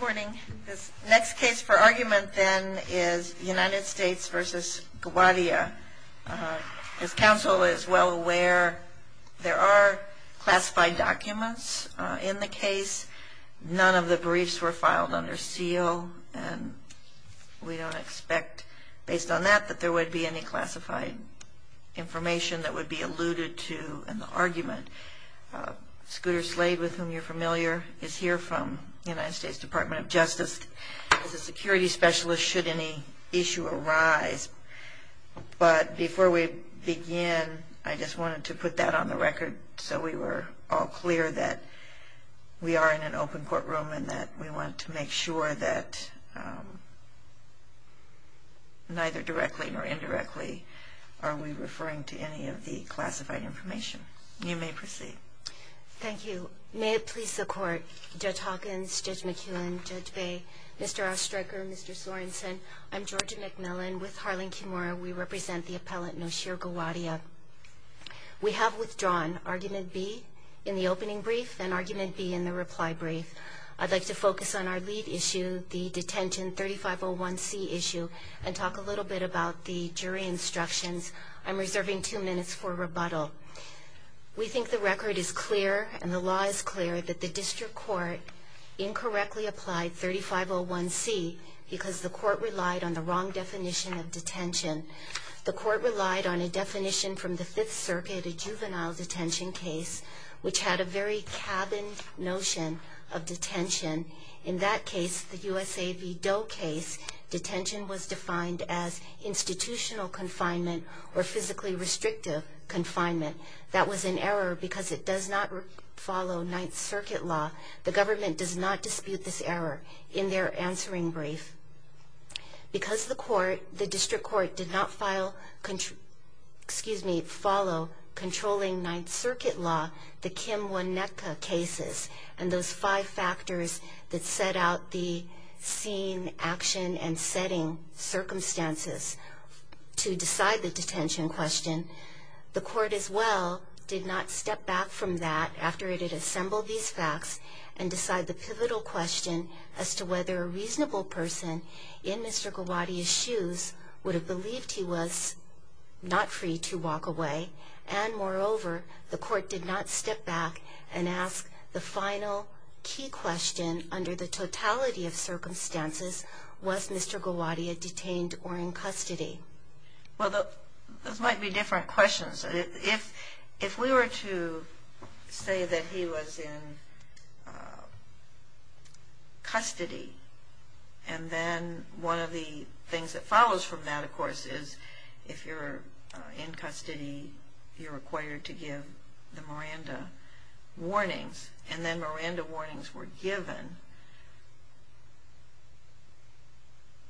Morning. This next case for argument then is United States v. Gowadia. As counsel is well aware, there are classified documents in the case. None of the briefs were filed under seal and we don't expect, based on that, that there would be any classified information that would be alluded to in the argument. Scooter Slade, with whom you're familiar, is here from the United States Department of Justice as a security specialist should any issue arise. But before we begin, I just wanted to put that on the record so we were all clear that we are in an open courtroom and that we want to make sure that neither directly nor indirectly are we referring to any of the classified information. You may proceed. Thank you. May it please the court. Judge Hawkins, Judge McEwen, Judge Bay, Mr. Ostriker, Mr. Sorensen, I'm Georgia McMillan with Harlan Kimura. We represent the appellant Noshir Gowadia. We have withdrawn argument B in the opening brief and argument B in the reply brief. I'd like to focus on our lead issue, the detention 3501C issue, and talk a little bit about the jury instructions. I'm reserving two minutes for rebuttal. We think the record is clear and the law is clear that the district court incorrectly applied 3501C because the court relied on the wrong definition of detention. The court relied on a definition from the Fifth Circuit, a juvenile detention case, which had a very cabined notion of detention. In that case, the USA v. Doe case, detention was defined as institutional confinement or physically restrictive confinement. That was an error because it does not follow Ninth Circuit law. The government does not dispute this error in their answering brief. Because the court, the district court, did not file, excuse me, follow controlling Ninth Circuit law, the Kimwoneka cases and those five factors that set out the scene, action, and circumstances to decide the detention question. The court as well did not step back from that after it had assembled these facts and decide the pivotal question as to whether a reasonable person in Mr. Gowaddy's shoes would have believed he was not free to walk away. And moreover, the court did not step back and ask the final key question under the totality of circumstances, was Mr. Gowaddy detained or in custody? Well, those might be different questions. If we were to say that he was in custody, and then one of the things that follows from that, of course, is if you're in custody, you're required to give the Miranda warnings. And then Miranda warnings were given.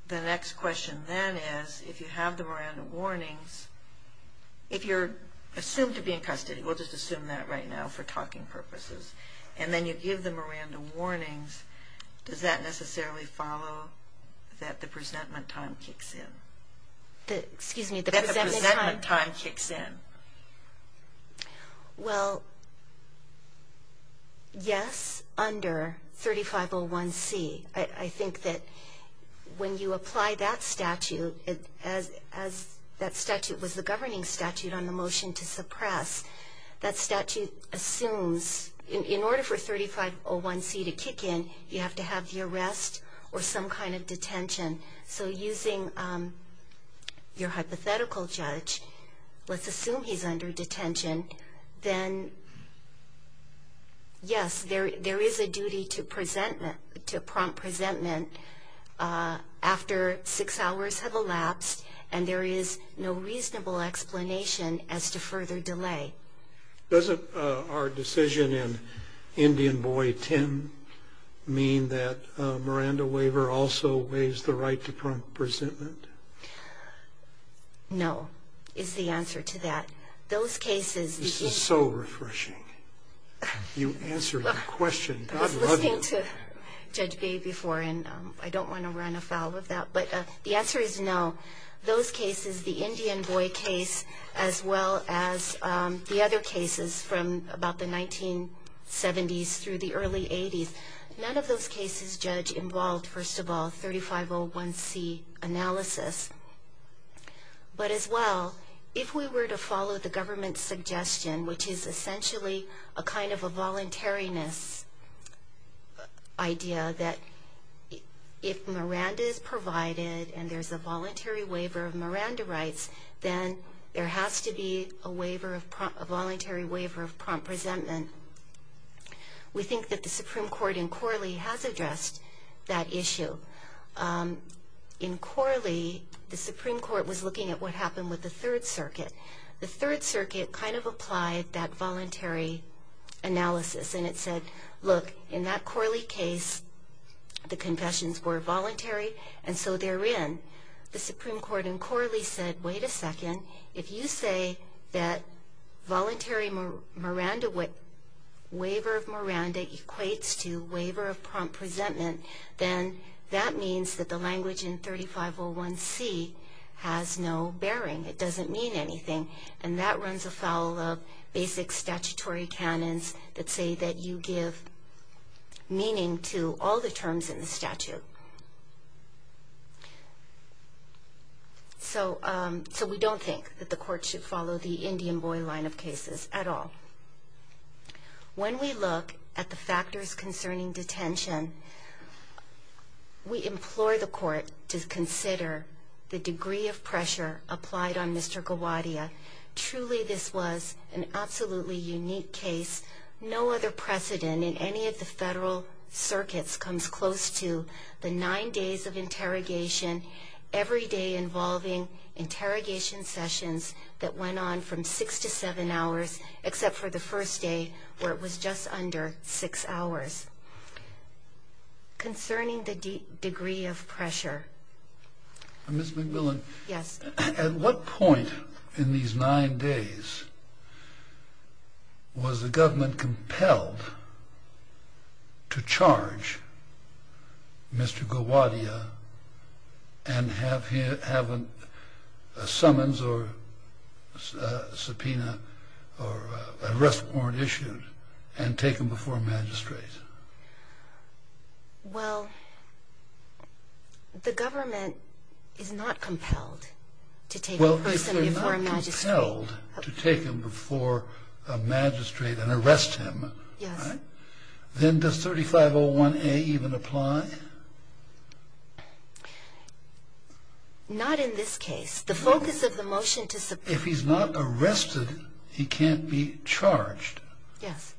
The next question then is, if you have the Miranda warnings, if you're assumed to be in custody, we'll just assume that right now for talking purposes, and then you give the Miranda warnings, does that necessarily follow that the presentment time kicks in? Excuse me, the presentment time? That the presentment time kicks in. Well, yes, under 3501C. I think that when you apply that statute, as that statute was the governing statute on the motion to suppress, that statute assumes, in order for 3501C to kick in, you have to have the arrest or some kind of detention. So using your hypothetical judge, let's assume he's under detention, then yes, there is a duty to prompt presentment after six hours have elapsed, and there is no reasonable explanation as to further delay. Doesn't our decision in Indian Boy 10 mean that a Miranda waiver also waives the right to prompt presentment? No, is the answer to that. Those cases... This is so refreshing. You answered the question. I was listening to Judge B before, and I don't want to run afoul of that, but the answer is no. Those cases, the Indian Boy case, as well as the other cases from about the 1970s through the early 80s, none of those cases, Judge, involved, first of all, 3501C analysis. But as well, if we were to follow the government's suggestion, which is and there's a voluntary waiver of Miranda rights, then there has to be a voluntary waiver of prompt presentment. We think that the Supreme Court in Corley has addressed that issue. In Corley, the Supreme Court was looking at what happened with the Third Circuit. The Third Circuit kind of applied that voluntary analysis, and it said, look, in that Corley case, the confessions were voluntary, and so they're in. The Supreme Court in Corley said, wait a second, if you say that voluntary Miranda...waiver of Miranda equates to waiver of prompt presentment, then that means that the language in 3501C has no bearing. It doesn't mean anything, and that runs afoul of basic statutory canons that say that you give meaning to all the terms in the statute. So we don't think that the Court should follow the Indian boy line of cases at all. When we look at the factors concerning detention, we implore the Court to consider the degree of pressure applied on Mr. Gawadia. Truly, this was an absolutely unique case. No other precedent in any of the federal circuits comes close to the nine days of interrogation, every day involving interrogation sessions that went on from six to seven hours, except for the first day, where it was just under six hours. Concerning the degree of pressure... Ms. McMillan, at what point in these nine days was the government compelled to charge Mr. Gawadia and have him have a summons or subpoena or arrest warrant issued and taken before magistrates? Well, the government is not compelled to take a person before a magistrate. Well, if they're not compelled to take him before a magistrate and arrest him, then does 3501A even apply? Not in this case. If he's not arrested, he can't be charged. Yes.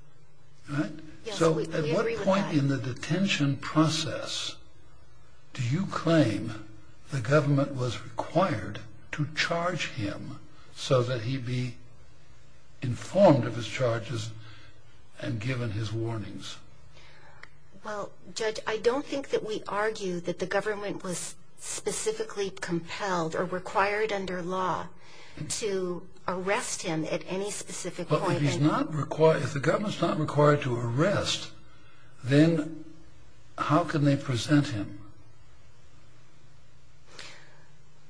Right? Yes, we agree with that. So at what point in the detention process do you claim the government was required to charge him so that he'd be informed of his charges and given his warnings? Well, Judge, I don't think that we argue that the government was specifically compelled or required under law to arrest him at any specific point. If the government's not required to arrest, then how can they present him?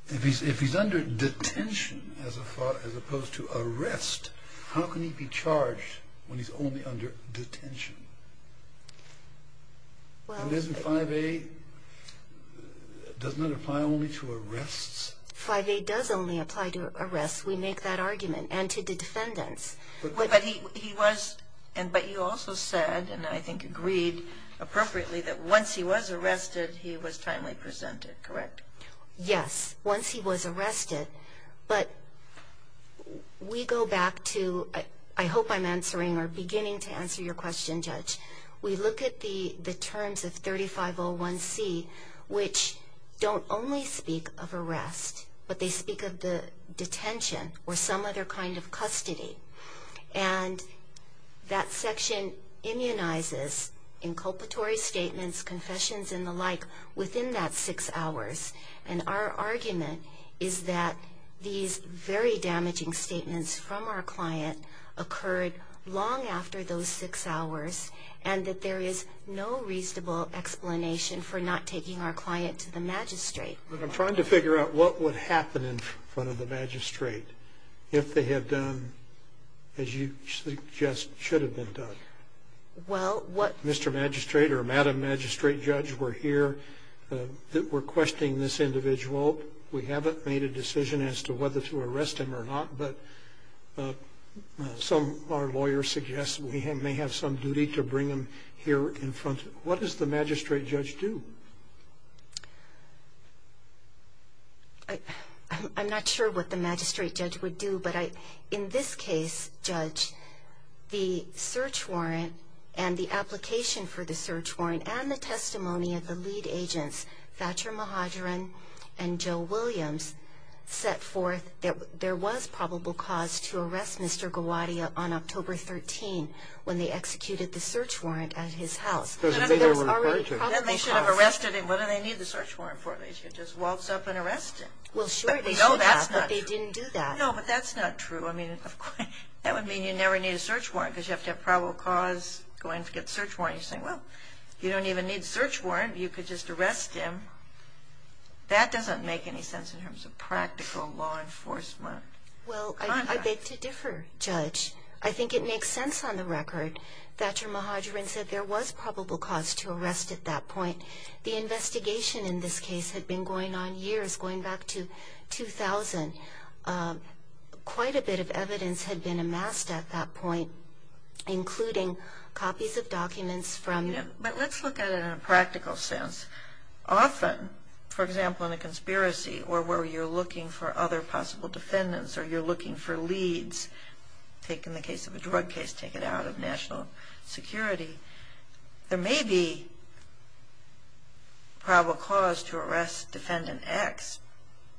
If he's under detention as opposed to arrest, how can he be charged when he's only under detention? And doesn't 5A apply only to arrests? 5A does only apply to arrests. We make that argument, and to defendants. But he also said, and I think agreed appropriately, that once he was arrested, he was timely presented, correct? Yes, once he was arrested. But we go back to, I hope I'm answering or beginning to answer your question, Judge. We look at the terms of 3501C, which don't only speak of arrest, but they speak of the detention or some other kind of custody. And that section immunizes inculpatory statements, confessions, and the like, within that six hours. And our argument is that these very damaging statements from our client occurred long after those six hours, and that there is no reasonable explanation for not taking our client to the magistrate. I'm trying to figure out what would happen in front of the magistrate if they had done as you suggest should have been done. Mr. Magistrate or Madam Magistrate Judge, we're here. We're questioning this individual. We haven't made a decision as to whether to arrest him or not, but some of our lawyers suggest we may have some duty to bring him here in front. What does the magistrate judge do? I'm not sure what the magistrate judge would do, but in this case, Judge, the search warrant and the application for the search warrant and the testimony of the lead agents, Thatcher Mahadran and Joe Williams, set forth that there was probable cause to arrest Mr. Gawadia on October 13 when they executed the search warrant at his house. They should have arrested him. What do they need the search warrant for? They should have just waltzed up and arrested him. Well, sure, they should have, but they didn't do that. No, but that's not true. I mean, that would mean you never need a search warrant because you have to have probable cause going to get the search warrant. You're saying, well, you don't even need the search warrant. You could just arrest him. That doesn't make any sense in terms of practical law enforcement. Well, I beg to differ, Judge. I think it makes sense on the record Thatcher Mahadran said there was probable cause to arrest at that point. The investigation in this case had been going on years, going back to 2000. Quite a bit of evidence had been amassed at that point, including copies of documents from – But let's look at it in a practical sense. Often, for example, in a conspiracy or where you're looking for other possible defendants or you're looking for leads, take in the case of a drug case, take it out of national security, there may be probable cause to arrest defendant X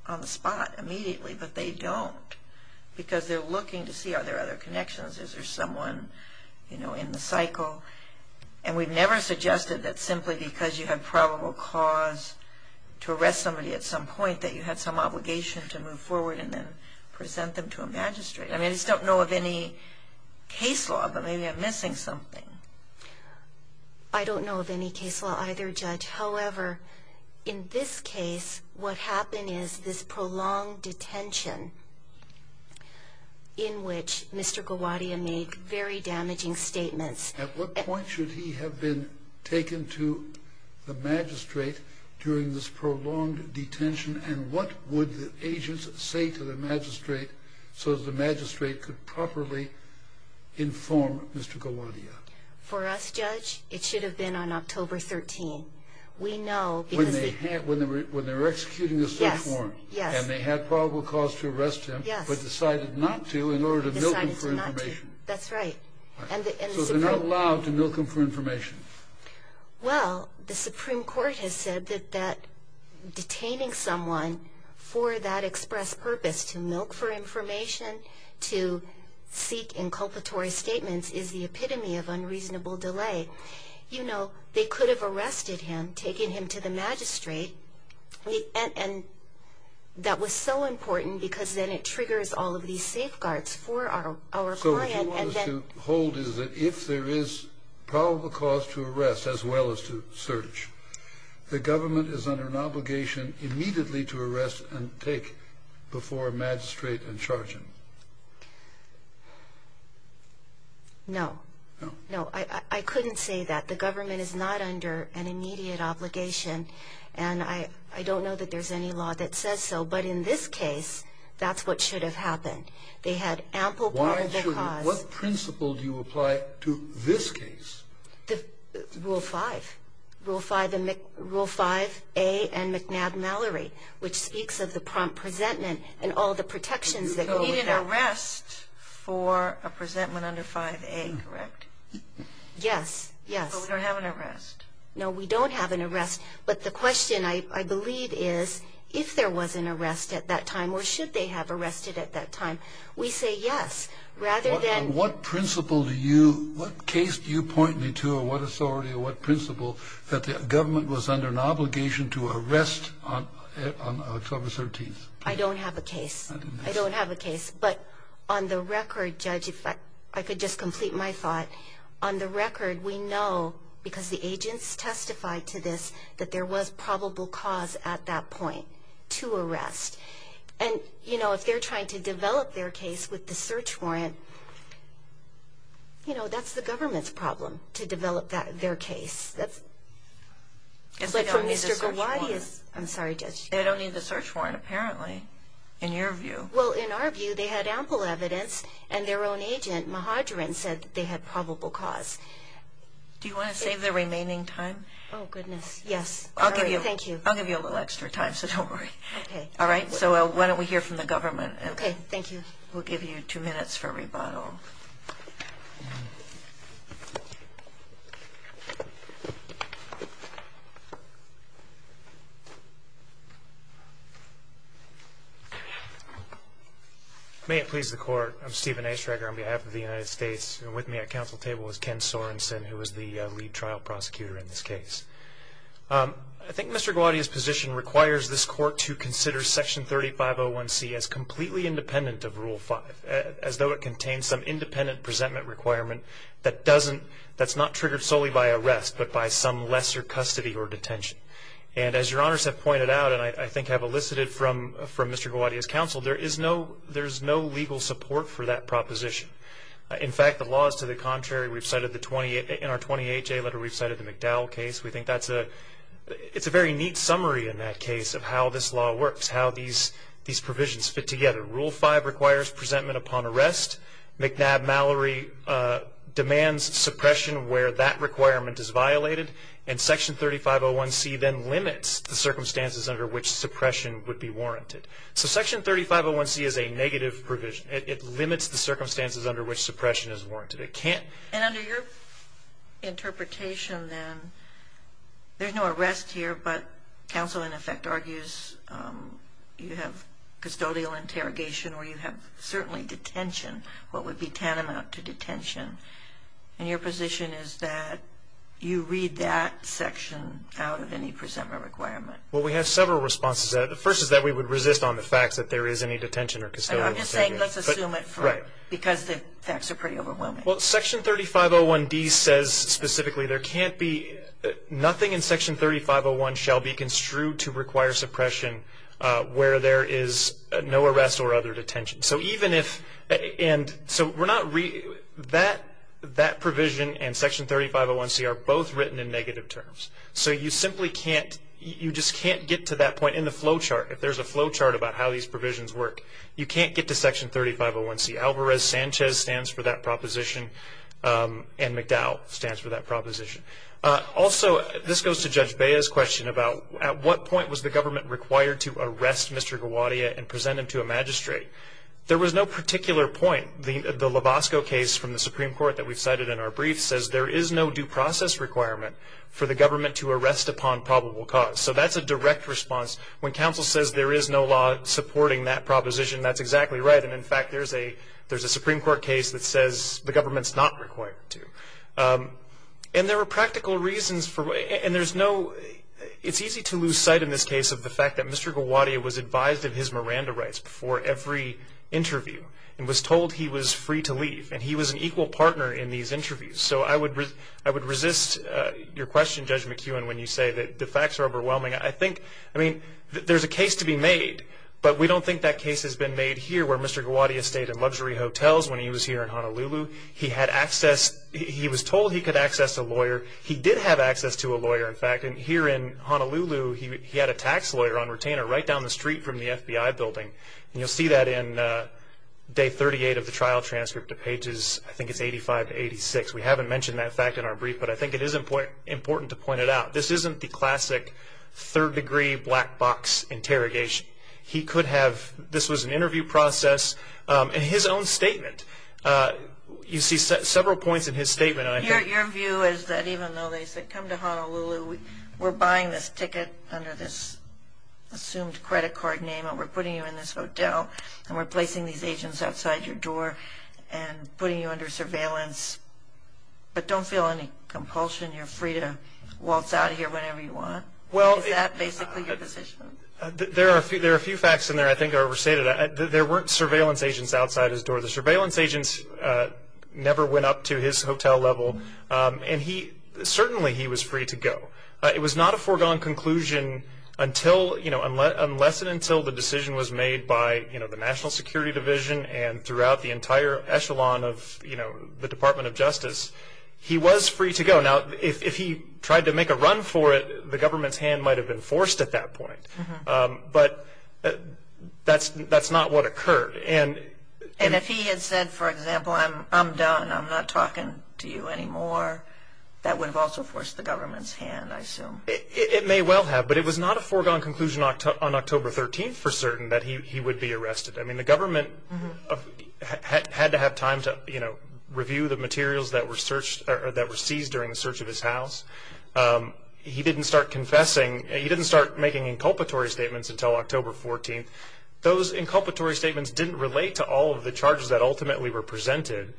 on the spot immediately, but they don't because they're looking to see are there other connections. Is there someone in the cycle? And we've never suggested that simply because you have probable cause to arrest somebody at some point that you had some obligation to move forward and then present them to a magistrate. I mean, I just don't know of any case law, but maybe I'm missing something. I don't know of any case law either, Judge. However, in this case, what happened is this prolonged detention in which Mr. Gawadia made very damaging statements. At what point should he have been taken to the magistrate during this prolonged detention, and what would the agents say to the magistrate so that the magistrate could properly inform Mr. Gawadia? For us, Judge, it should have been on October 13. When they were executing the search warrant and they had probable cause to arrest him but decided not to in order to milk him for information. That's right. So they're not allowed to milk him for information. Well, the Supreme Court has said that detaining someone for that express purpose, to milk for information, to seek inculpatory statements, is the epitome of unreasonable delay. You know, they could have arrested him, taken him to the magistrate, and that was so important because then it triggers all of these safeguards for our client. What you want us to hold is that if there is probable cause to arrest as well as to search, the government is under an obligation immediately to arrest and take before magistrate and charge him. No. No. I couldn't say that. The government is not under an immediate obligation, and I don't know that there's any law that says so, but in this case, that's what should have happened. They had ample probable cause. What principle do you apply to this case? Rule 5. Rule 5A and McNabb-Mallory, which speaks of the prompt presentment and all the protections that go with that. You don't need an arrest for a presentment under 5A, correct? Yes. Yes. But we don't have an arrest. No, we don't have an arrest, but the question, I believe, is if there was an arrest at that time or should they have arrested at that time. We say yes, rather than... What principle do you... What case do you point me to or what authority or what principle that the government was under an obligation to arrest on October 13th? I don't have a case. I don't have a case, but on the record, Judge, if I could just complete my thought, on the record, we know, because the agents testified to this, that there was probable cause at that point to arrest. And, you know, if they're trying to develop their case with the search warrant, you know, that's the government's problem, to develop their case. That's... They don't need the search warrant. I'm sorry, Judge. They don't need the search warrant, apparently, in your view. Well, in our view, they had ample evidence, and their own agent, Mahadrin, said they had probable cause. Do you want to save the remaining time? Oh, goodness, yes. All right, thank you. I'll give you a little extra time, so don't worry. Okay. All right, so why don't we hear from the government. Okay, thank you. We'll give you two minutes for rebuttal. May it please the Court. I'm Stephen A. Schreger on behalf of the United States, and with me at council table is Ken Sorensen, who is the lead trial prosecutor in this case. I think Mr. Guadagno's position requires this Court to consider Section 3501C as completely independent of Rule 5, as though it contains some independent presentment requirement that doesn't... that's not triggered solely by arrest, but by some lesser custody or detention. And as Your Honors have pointed out, and I think have elicited from Mr. Guadagno's counsel, there is no legal support for that proposition. In fact, the law is to the contrary. In our 28-J letter, we've cited the McDowell case. We think that's a... it's a very neat summary in that case of how this law works, how these provisions fit together. Rule 5 requires presentment upon arrest. McNabb-Mallory demands suppression where that requirement is violated, and Section 3501C then limits the circumstances under which suppression would be warranted. So Section 3501C is a negative provision. It limits the circumstances under which suppression is warranted. But it can't... And under your interpretation, then, there's no arrest here, but counsel, in effect, argues you have custodial interrogation or you have certainly detention, what would be tantamount to detention. And your position is that you read that section out of any presentment requirement. Well, we have several responses. The first is that we would resist on the facts that there is any detention or custodial interrogation. Right. Because the facts are pretty overwhelming. Well, Section 3501D says specifically there can't be... nothing in Section 3501 shall be construed to require suppression where there is no arrest or other detention. So even if... and so we're not... that provision and Section 3501C are both written in negative terms. So you simply can't... you just can't get to that point in the flow chart. If there's a flow chart about how these provisions work, you can't get to Section 3501C. Alvarez-Sanchez stands for that proposition, and McDowell stands for that proposition. Also, this goes to Judge Bea's question about at what point was the government required to arrest Mr. Gawadia and present him to a magistrate. There was no particular point. The Lovasco case from the Supreme Court that we cited in our brief says there is no due process requirement for the government to arrest upon probable cause. So that's a direct response. When counsel says there is no law supporting that proposition, that's exactly right. And, in fact, there's a Supreme Court case that says the government's not required to. And there are practical reasons for... and there's no... it's easy to lose sight in this case of the fact that Mr. Gawadia was advised of his Miranda rights before every interview and was told he was free to leave. And he was an equal partner in these interviews. So I would resist your question, Judge McEwen, when you say that the facts are overwhelming. I think... I mean, there's a case to be made, but we don't think that case has been made here where Mr. Gawadia stayed in luxury hotels when he was here in Honolulu. He had access... he was told he could access a lawyer. He did have access to a lawyer, in fact. And here in Honolulu, he had a tax lawyer on retainer right down the street from the FBI building. And you'll see that in day 38 of the trial transcript to pages... I think it's 85 to 86. We haven't mentioned that fact in our brief, but I think it is important to point it out. This isn't the classic third-degree black box interrogation. He could have... this was an interview process. In his own statement, you see several points in his statement. Your view is that even though they said, come to Honolulu, we're buying this ticket under this assumed credit card name and we're putting you in this hotel and we're placing these agents outside your door and putting you under surveillance, but don't feel any compulsion. You're free to waltz out of here whenever you want. Is that basically your position? There are a few facts in there I think are overstated. There weren't surveillance agents outside his door. The surveillance agents never went up to his hotel level. And he... certainly he was free to go. It was not a foregone conclusion until... the entire echelon of the Department of Justice. He was free to go. Now, if he tried to make a run for it, the government's hand might have been forced at that point. But that's not what occurred. And if he had said, for example, I'm done, I'm not talking to you anymore, that would have also forced the government's hand, I assume. It may well have, but it was not a foregone conclusion on October 13th for certain that he would be arrested. I mean, the government had to have time to, you know, review the materials that were seized during the search of his house. He didn't start confessing. He didn't start making inculpatory statements until October 14th. Those inculpatory statements didn't relate to all of the charges that ultimately were presented.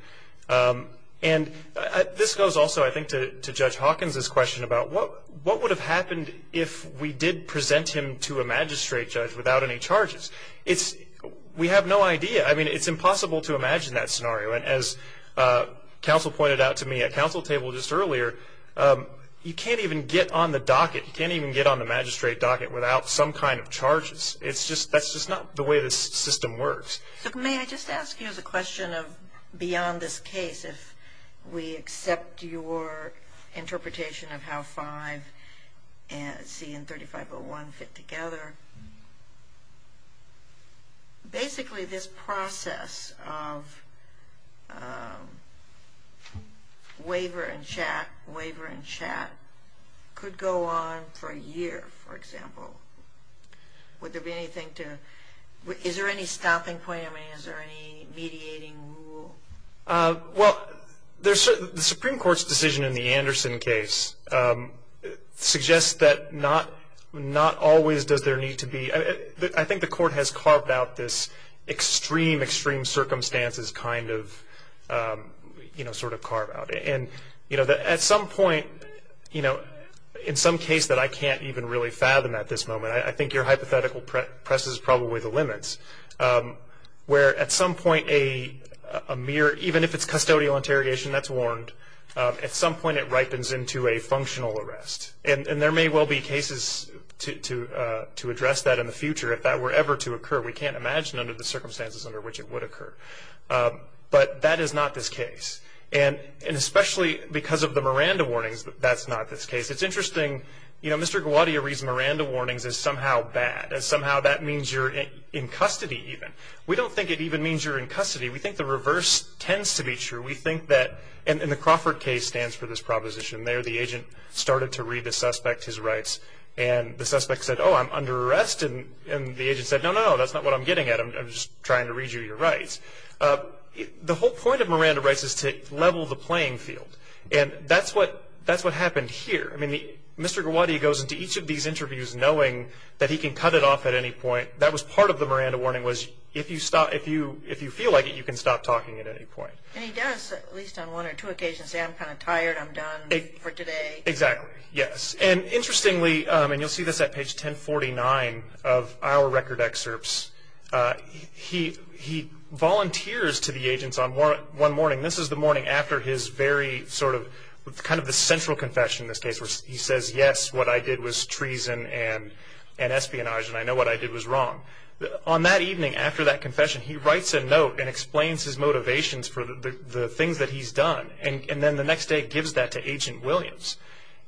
And this goes also, I think, to Judge Hawkins' question about what would have happened if we did present him to a magistrate judge without any charges. We have no idea. I mean, it's impossible to imagine that scenario. And as counsel pointed out to me at counsel table just earlier, you can't even get on the docket. You can't even get on the magistrate docket without some kind of charges. That's just not the way this system works. So may I just ask you as a question of beyond this case, if we accept your interpretation of how 5C and 3501 fit together. Basically, this process of waiver and chat, waiver and chat, could go on for a year, for example. Would there be anything to, is there any stopping point? I mean, is there any mediating rule? Well, the Supreme Court's decision in the Anderson case suggests that not always does there need to be. I think the court has carved out this extreme, extreme circumstances kind of, you know, sort of carve out. And, you know, at some point, you know, in some case that I can't even really fathom at this moment, I think your hypothetical presses probably the limits, where at some point a mere, even if it's custodial interrogation, that's warned, at some point it ripens into a functional arrest. And there may well be cases to address that in the future if that were ever to occur. We can't imagine under the circumstances under which it would occur. But that is not this case. And especially because of the Miranda warnings, that's not this case. It's interesting, you know, Mr. Gawadia reads Miranda warnings as somehow bad, as somehow that means you're in custody even. We don't think it even means you're in custody. We think the reverse tends to be true. We think that, and the Crawford case stands for this proposition. There the agent started to read the suspect his rights. And the suspect said, oh, I'm under arrest. And the agent said, no, no, no, that's not what I'm getting at. I'm just trying to read you your rights. The whole point of Miranda rights is to level the playing field. And that's what happened here. I mean, Mr. Gawadia goes into each of these interviews knowing that he can cut it off at any point. That was part of the Miranda warning was if you feel like it, you can stop talking at any point. And he does, at least on one or two occasions, say I'm kind of tired, I'm done for today. Exactly, yes. And interestingly, and you'll see this at page 1049 of our record excerpts, he volunteers to the agents on one morning. This is the morning after his very sort of kind of the central confession in this case, where he says, yes, what I did was treason and espionage, and I know what I did was wrong. On that evening after that confession, he writes a note and explains his motivations for the things that he's done. And then the next day he gives that to Agent Williams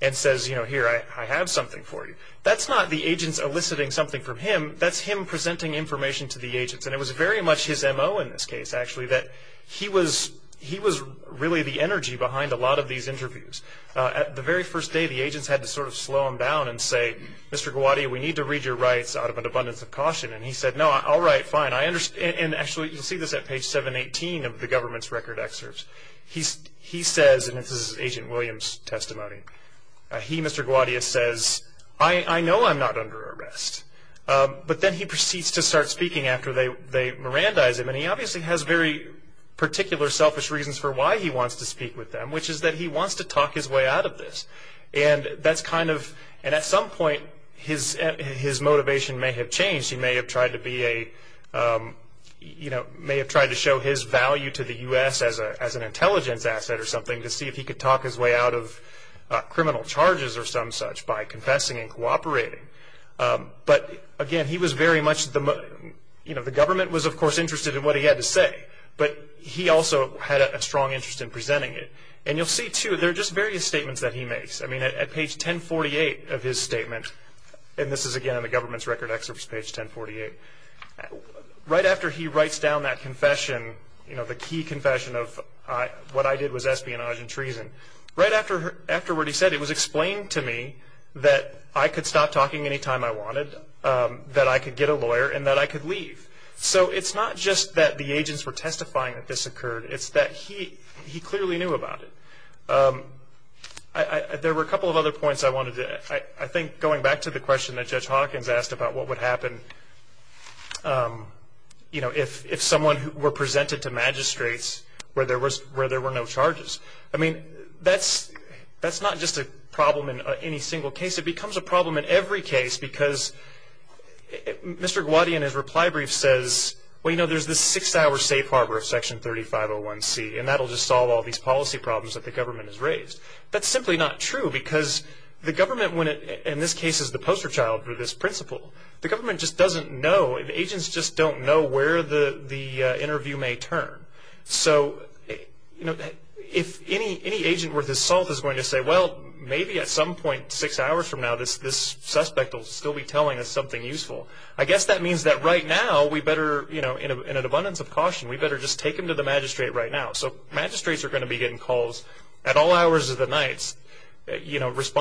and says, you know, here, I have something for you. That's not the agents eliciting something from him. That's him presenting information to the agents. And it was very much his MO in this case, actually, that he was really the energy behind a lot of these interviews. The very first day, the agents had to sort of slow him down and say, Mr. Gawadia, we need to read your rights out of an abundance of caution. And he said, no, all right, fine. And actually, you'll see this at page 718 of the government's record excerpts. He says, and this is Agent Williams' testimony, he, Mr. Gawadia, says, I know I'm not under arrest. But then he proceeds to start speaking after they Mirandize him. And he obviously has very particular selfish reasons for why he wants to speak with them, which is that he wants to talk his way out of this. And that's kind of, and at some point his motivation may have changed. He may have tried to be a, you know, may have tried to show his value to the U.S. as an intelligence asset or something to see if he could talk his way out of criminal charges or some such by confessing and cooperating. But, again, he was very much, you know, the government was, of course, interested in what he had to say. But he also had a strong interest in presenting it. And you'll see, too, there are just various statements that he makes. I mean, at page 1048 of his statement, and this is, again, in the government's record excerpts, page 1048, right after he writes down that confession, you know, the key confession of what I did was espionage and treason, right after what he said it was explained to me that I could stop talking any time I wanted, that I could get a lawyer, and that I could leave. So it's not just that the agents were testifying that this occurred. It's that he clearly knew about it. There were a couple of other points I wanted to, I think, going back to the question that Judge Hawkins asked about what would happen, you know, if someone were presented to magistrates where there were no charges. I mean, that's not just a problem in any single case. It becomes a problem in every case because Mr. Gowady, in his reply brief, says, well, you know, there's this six-hour safe harbor of Section 3501C, and that'll just solve all these policy problems that the government has raised. That's simply not true because the government, in this case, is the poster child for this principle. The government just doesn't know, and agents just don't know where the interview may turn. So, you know, if any agent worth his salt is going to say, well, maybe at some point, six hours from now this suspect will still be telling us something useful, I guess that means that right now we better, you know, in an abundance of caution, we better just take him to the magistrate right now. So magistrates are going to be getting calls at all hours of the night, you know, There's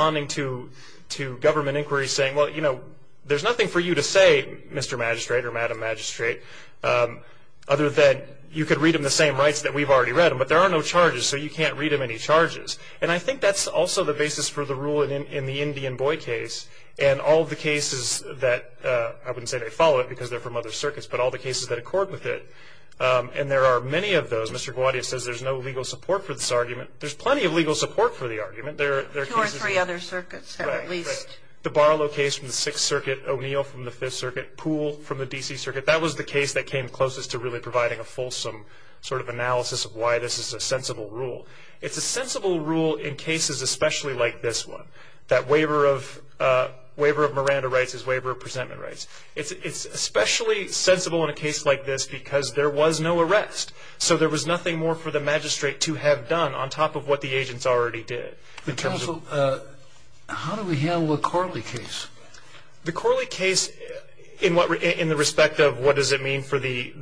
nothing for you to say, Mr. Magistrate or Madam Magistrate, other than you could read them the same rights that we've already read them, but there are no charges, so you can't read them any charges. And I think that's also the basis for the rule in the Indian boy case, and all the cases that, I wouldn't say they follow it because they're from other circuits, but all the cases that accord with it. And there are many of those. Mr. Gowady says there's no legal support for this argument. There's plenty of legal support for the argument. There are cases. Two or three other circuits have at least. The Barlow case from the Sixth Circuit, O'Neill from the Fifth Circuit, Poole from the D.C. Circuit, that was the case that came closest to really providing a fulsome sort of analysis of why this is a sensible rule. It's a sensible rule in cases especially like this one, that waiver of Miranda rights is waiver of presentment rights. It's especially sensible in a case like this because there was no arrest, so there was nothing more for the magistrate to have done on top of what the agents already did. Counsel, how do we handle the Corley case? The Corley case in the respect of what does it mean for the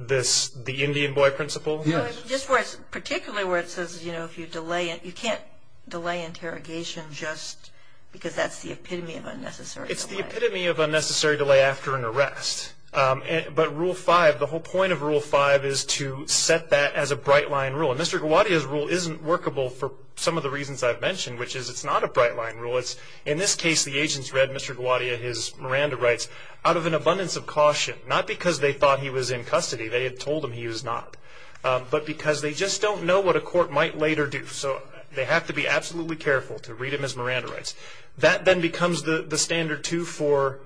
Indian boy principle? Yes. Just particularly where it says, you know, if you delay it, you can't delay interrogation just because that's the epitome of unnecessary delay. It's the epitome of unnecessary delay after an arrest. But Rule 5, the whole point of Rule 5 is to set that as a bright line rule. And Mr. Gawadia's rule isn't workable for some of the reasons I've mentioned, which is it's not a bright line rule. In this case, the agents read Mr. Gawadia, his Miranda rights, out of an abundance of caution, not because they thought he was in custody, they had told him he was not, but because they just don't know what a court might later do, so they have to be absolutely careful to read him his Miranda rights. That then becomes the standard too for,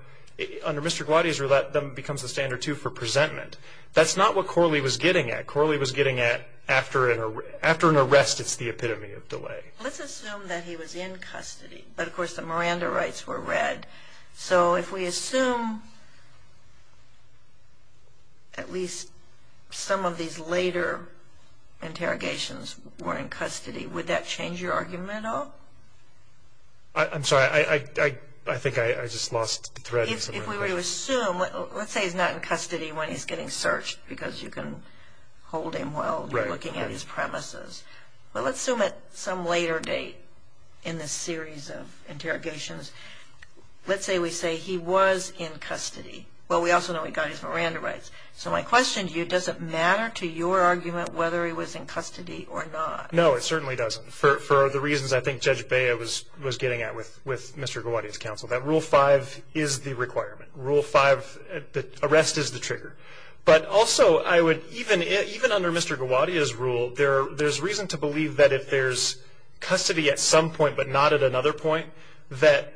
under Mr. Gawadia's rule, that then becomes the standard too for presentment. That's not what Corley was getting at. Corley was getting at after an arrest, it's the epitome of delay. Let's assume that he was in custody. But, of course, the Miranda rights were read. So if we assume at least some of these later interrogations were in custody, would that change your argument at all? I'm sorry. I think I just lost the thread. If we were to assume, let's say he's not in custody when he's getting searched because you can hold him while you're looking at his premises. Well, let's assume at some later date in this series of interrogations, let's say we say he was in custody. Well, we also know he got his Miranda rights. So my question to you, does it matter to your argument whether he was in custody or not? No, it certainly doesn't for the reasons I think Judge Bea was getting at with Mr. Gawadia's counsel, that Rule 5 is the requirement. Arrest is the trigger. But also, even under Mr. Gawadia's rule, there's reason to believe that if there's custody at some point but not at another point, that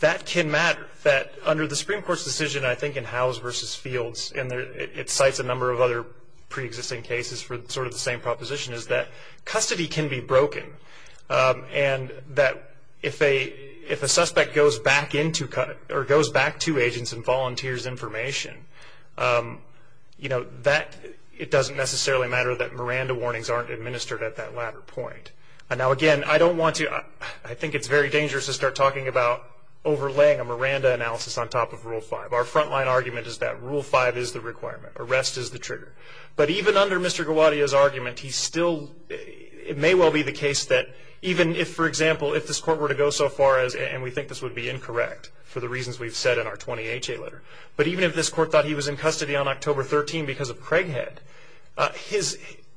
that can matter, that under the Supreme Court's decision, I think, in Howes v. Fields, and it cites a number of other preexisting cases for sort of the same proposition, is that custody can be broken. And that if a suspect goes back to agents and volunteers information, it doesn't necessarily matter that Miranda warnings aren't administered at that latter point. Now, again, I think it's very dangerous to start talking about overlaying a Miranda analysis on top of Rule 5. Our frontline argument is that Rule 5 is the requirement. Arrest is the trigger. But even under Mr. Gawadia's argument, it may well be the case that even if, for example, if this court were to go so far as, and we think this would be incorrect, for the reasons we've said in our 20HA letter, but even if this court thought he was in custody on October 13 because of Craighead,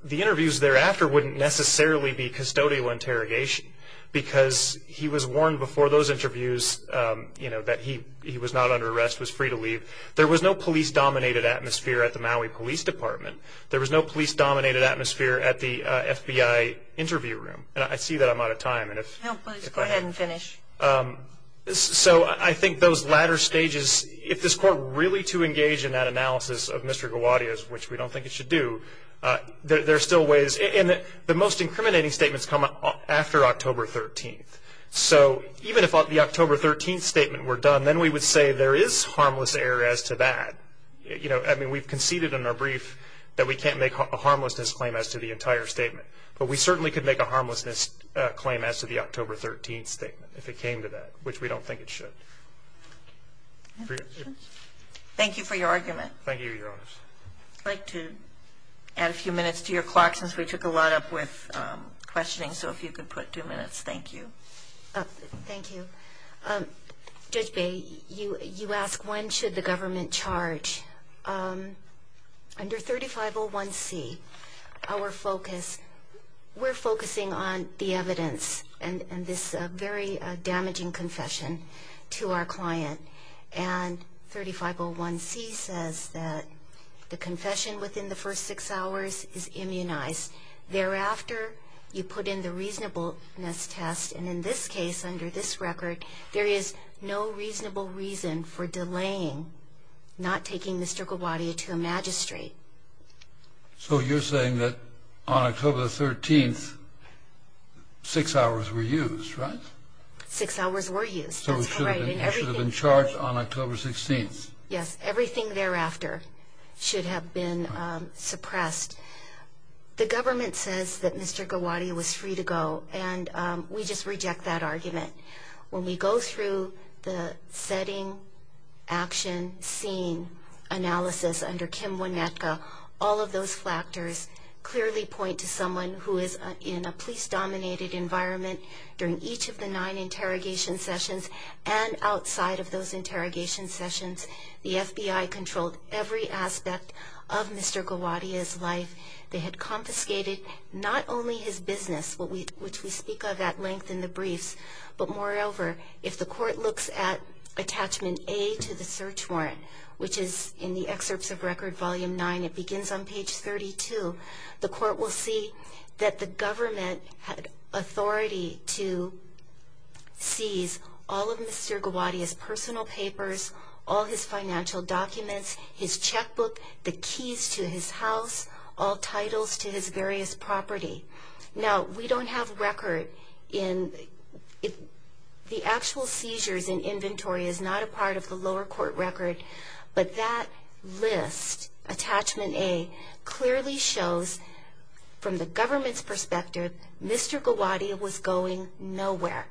the interviews thereafter wouldn't necessarily be custodial interrogation because he was warned before those interviews that he was not under arrest, was free to leave. There was no police-dominated atmosphere at the Maui Police Department. There was no police-dominated atmosphere at the FBI interview room. And I see that I'm out of time. Go ahead and finish. So I think those latter stages, if this court were really to engage in that analysis of Mr. Gawadia's, which we don't think it should do, there are still ways. And the most incriminating statements come after October 13. So even if the October 13 statement were done, then we would say there is harmless error as to that. I mean, we've conceded in our brief that we can't make a harmlessness claim as to the entire statement. But we certainly could make a harmlessness claim as to the October 13 statement if it came to that, which we don't think it should. Thank you for your argument. Thank you, Your Honors. I'd like to add a few minutes to your clock since we took a lot up with questioning. So if you could put two minutes. Thank you. Thank you. Judge Baye, you ask when should the government charge. Under 3501C, our focus, we're focusing on the evidence and this very damaging confession to our client. And 3501C says that the confession within the first six hours is immunized. Thereafter, you put in the reasonableness test. And in this case, under this record, there is no reasonable reason for delaying, not taking the circle body to a magistrate. So you're saying that on October 13, six hours were used, right? Six hours were used. So it should have been charged on October 16. Yes, everything thereafter should have been suppressed. The government says that Mr. Gowady was free to go, and we just reject that argument. When we go through the setting, action, scene analysis under Kim Wynetka, all of those factors clearly point to someone who is in a police-dominated environment. During each of the nine interrogation sessions and outside of those interrogation sessions, the FBI controlled every aspect of Mr. Gowady's life. They had confiscated not only his business, which we speak of at length in the briefs, but moreover, if the court looks at attachment A to the search warrant, which is in the excerpts of Record Volume 9, it begins on page 32, the court will see that the government had authority to seize all of Mr. Gowady's personal papers, all his financial documents, his checkbook, the keys to his house, all titles to his various property. Now, we don't have record in the actual seizures in inventory is not a part of the lower court record, but that list, attachment A, clearly shows from the government's perspective Mr. Gowady was going nowhere.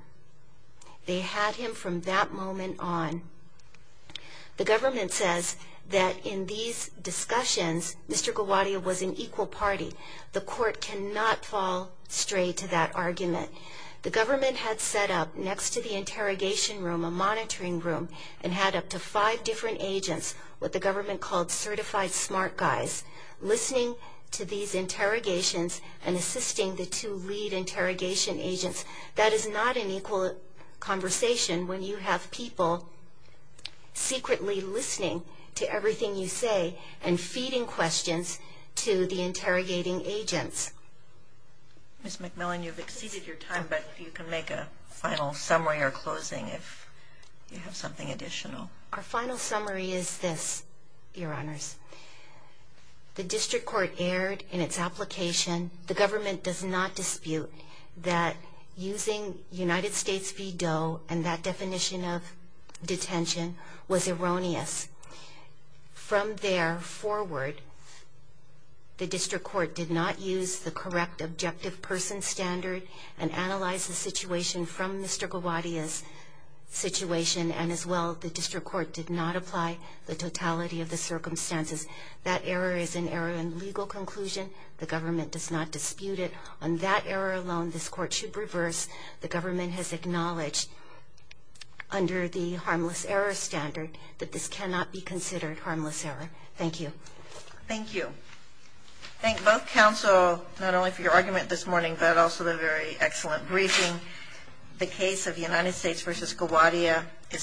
They had him from that moment on. The government says that in these discussions, Mr. Gowady was an equal party. The court cannot fall straight to that argument. The government had set up next to the interrogation room a monitoring room and had up to five different agents, what the government called certified smart guys, listening to these interrogations and assisting the two lead interrogation agents. That is not an equal conversation when you have people secretly listening to everything you say and feeding questions to the interrogating agents. Ms. McMillan, you've exceeded your time, but you can make a final summary or closing if you have something additional. Our final summary is this, Your Honors. The district court erred in its application. The government does not dispute that using United States v. Doe and that definition of detention was erroneous. From there forward, the district court did not use the correct objective person standard and analyze the situation from Mr. Gowady's situation, and as well, the district court did not apply the totality of the circumstances. That error is an error in legal conclusion. The government does not dispute it. On that error alone, this court should reverse. The government has acknowledged under the harmless error standard that this cannot be considered harmless error. Thank you. Thank you. Thank both counsel, not only for your argument this morning, but also the very excellent briefing. The case of United States v. Gowady is submitted.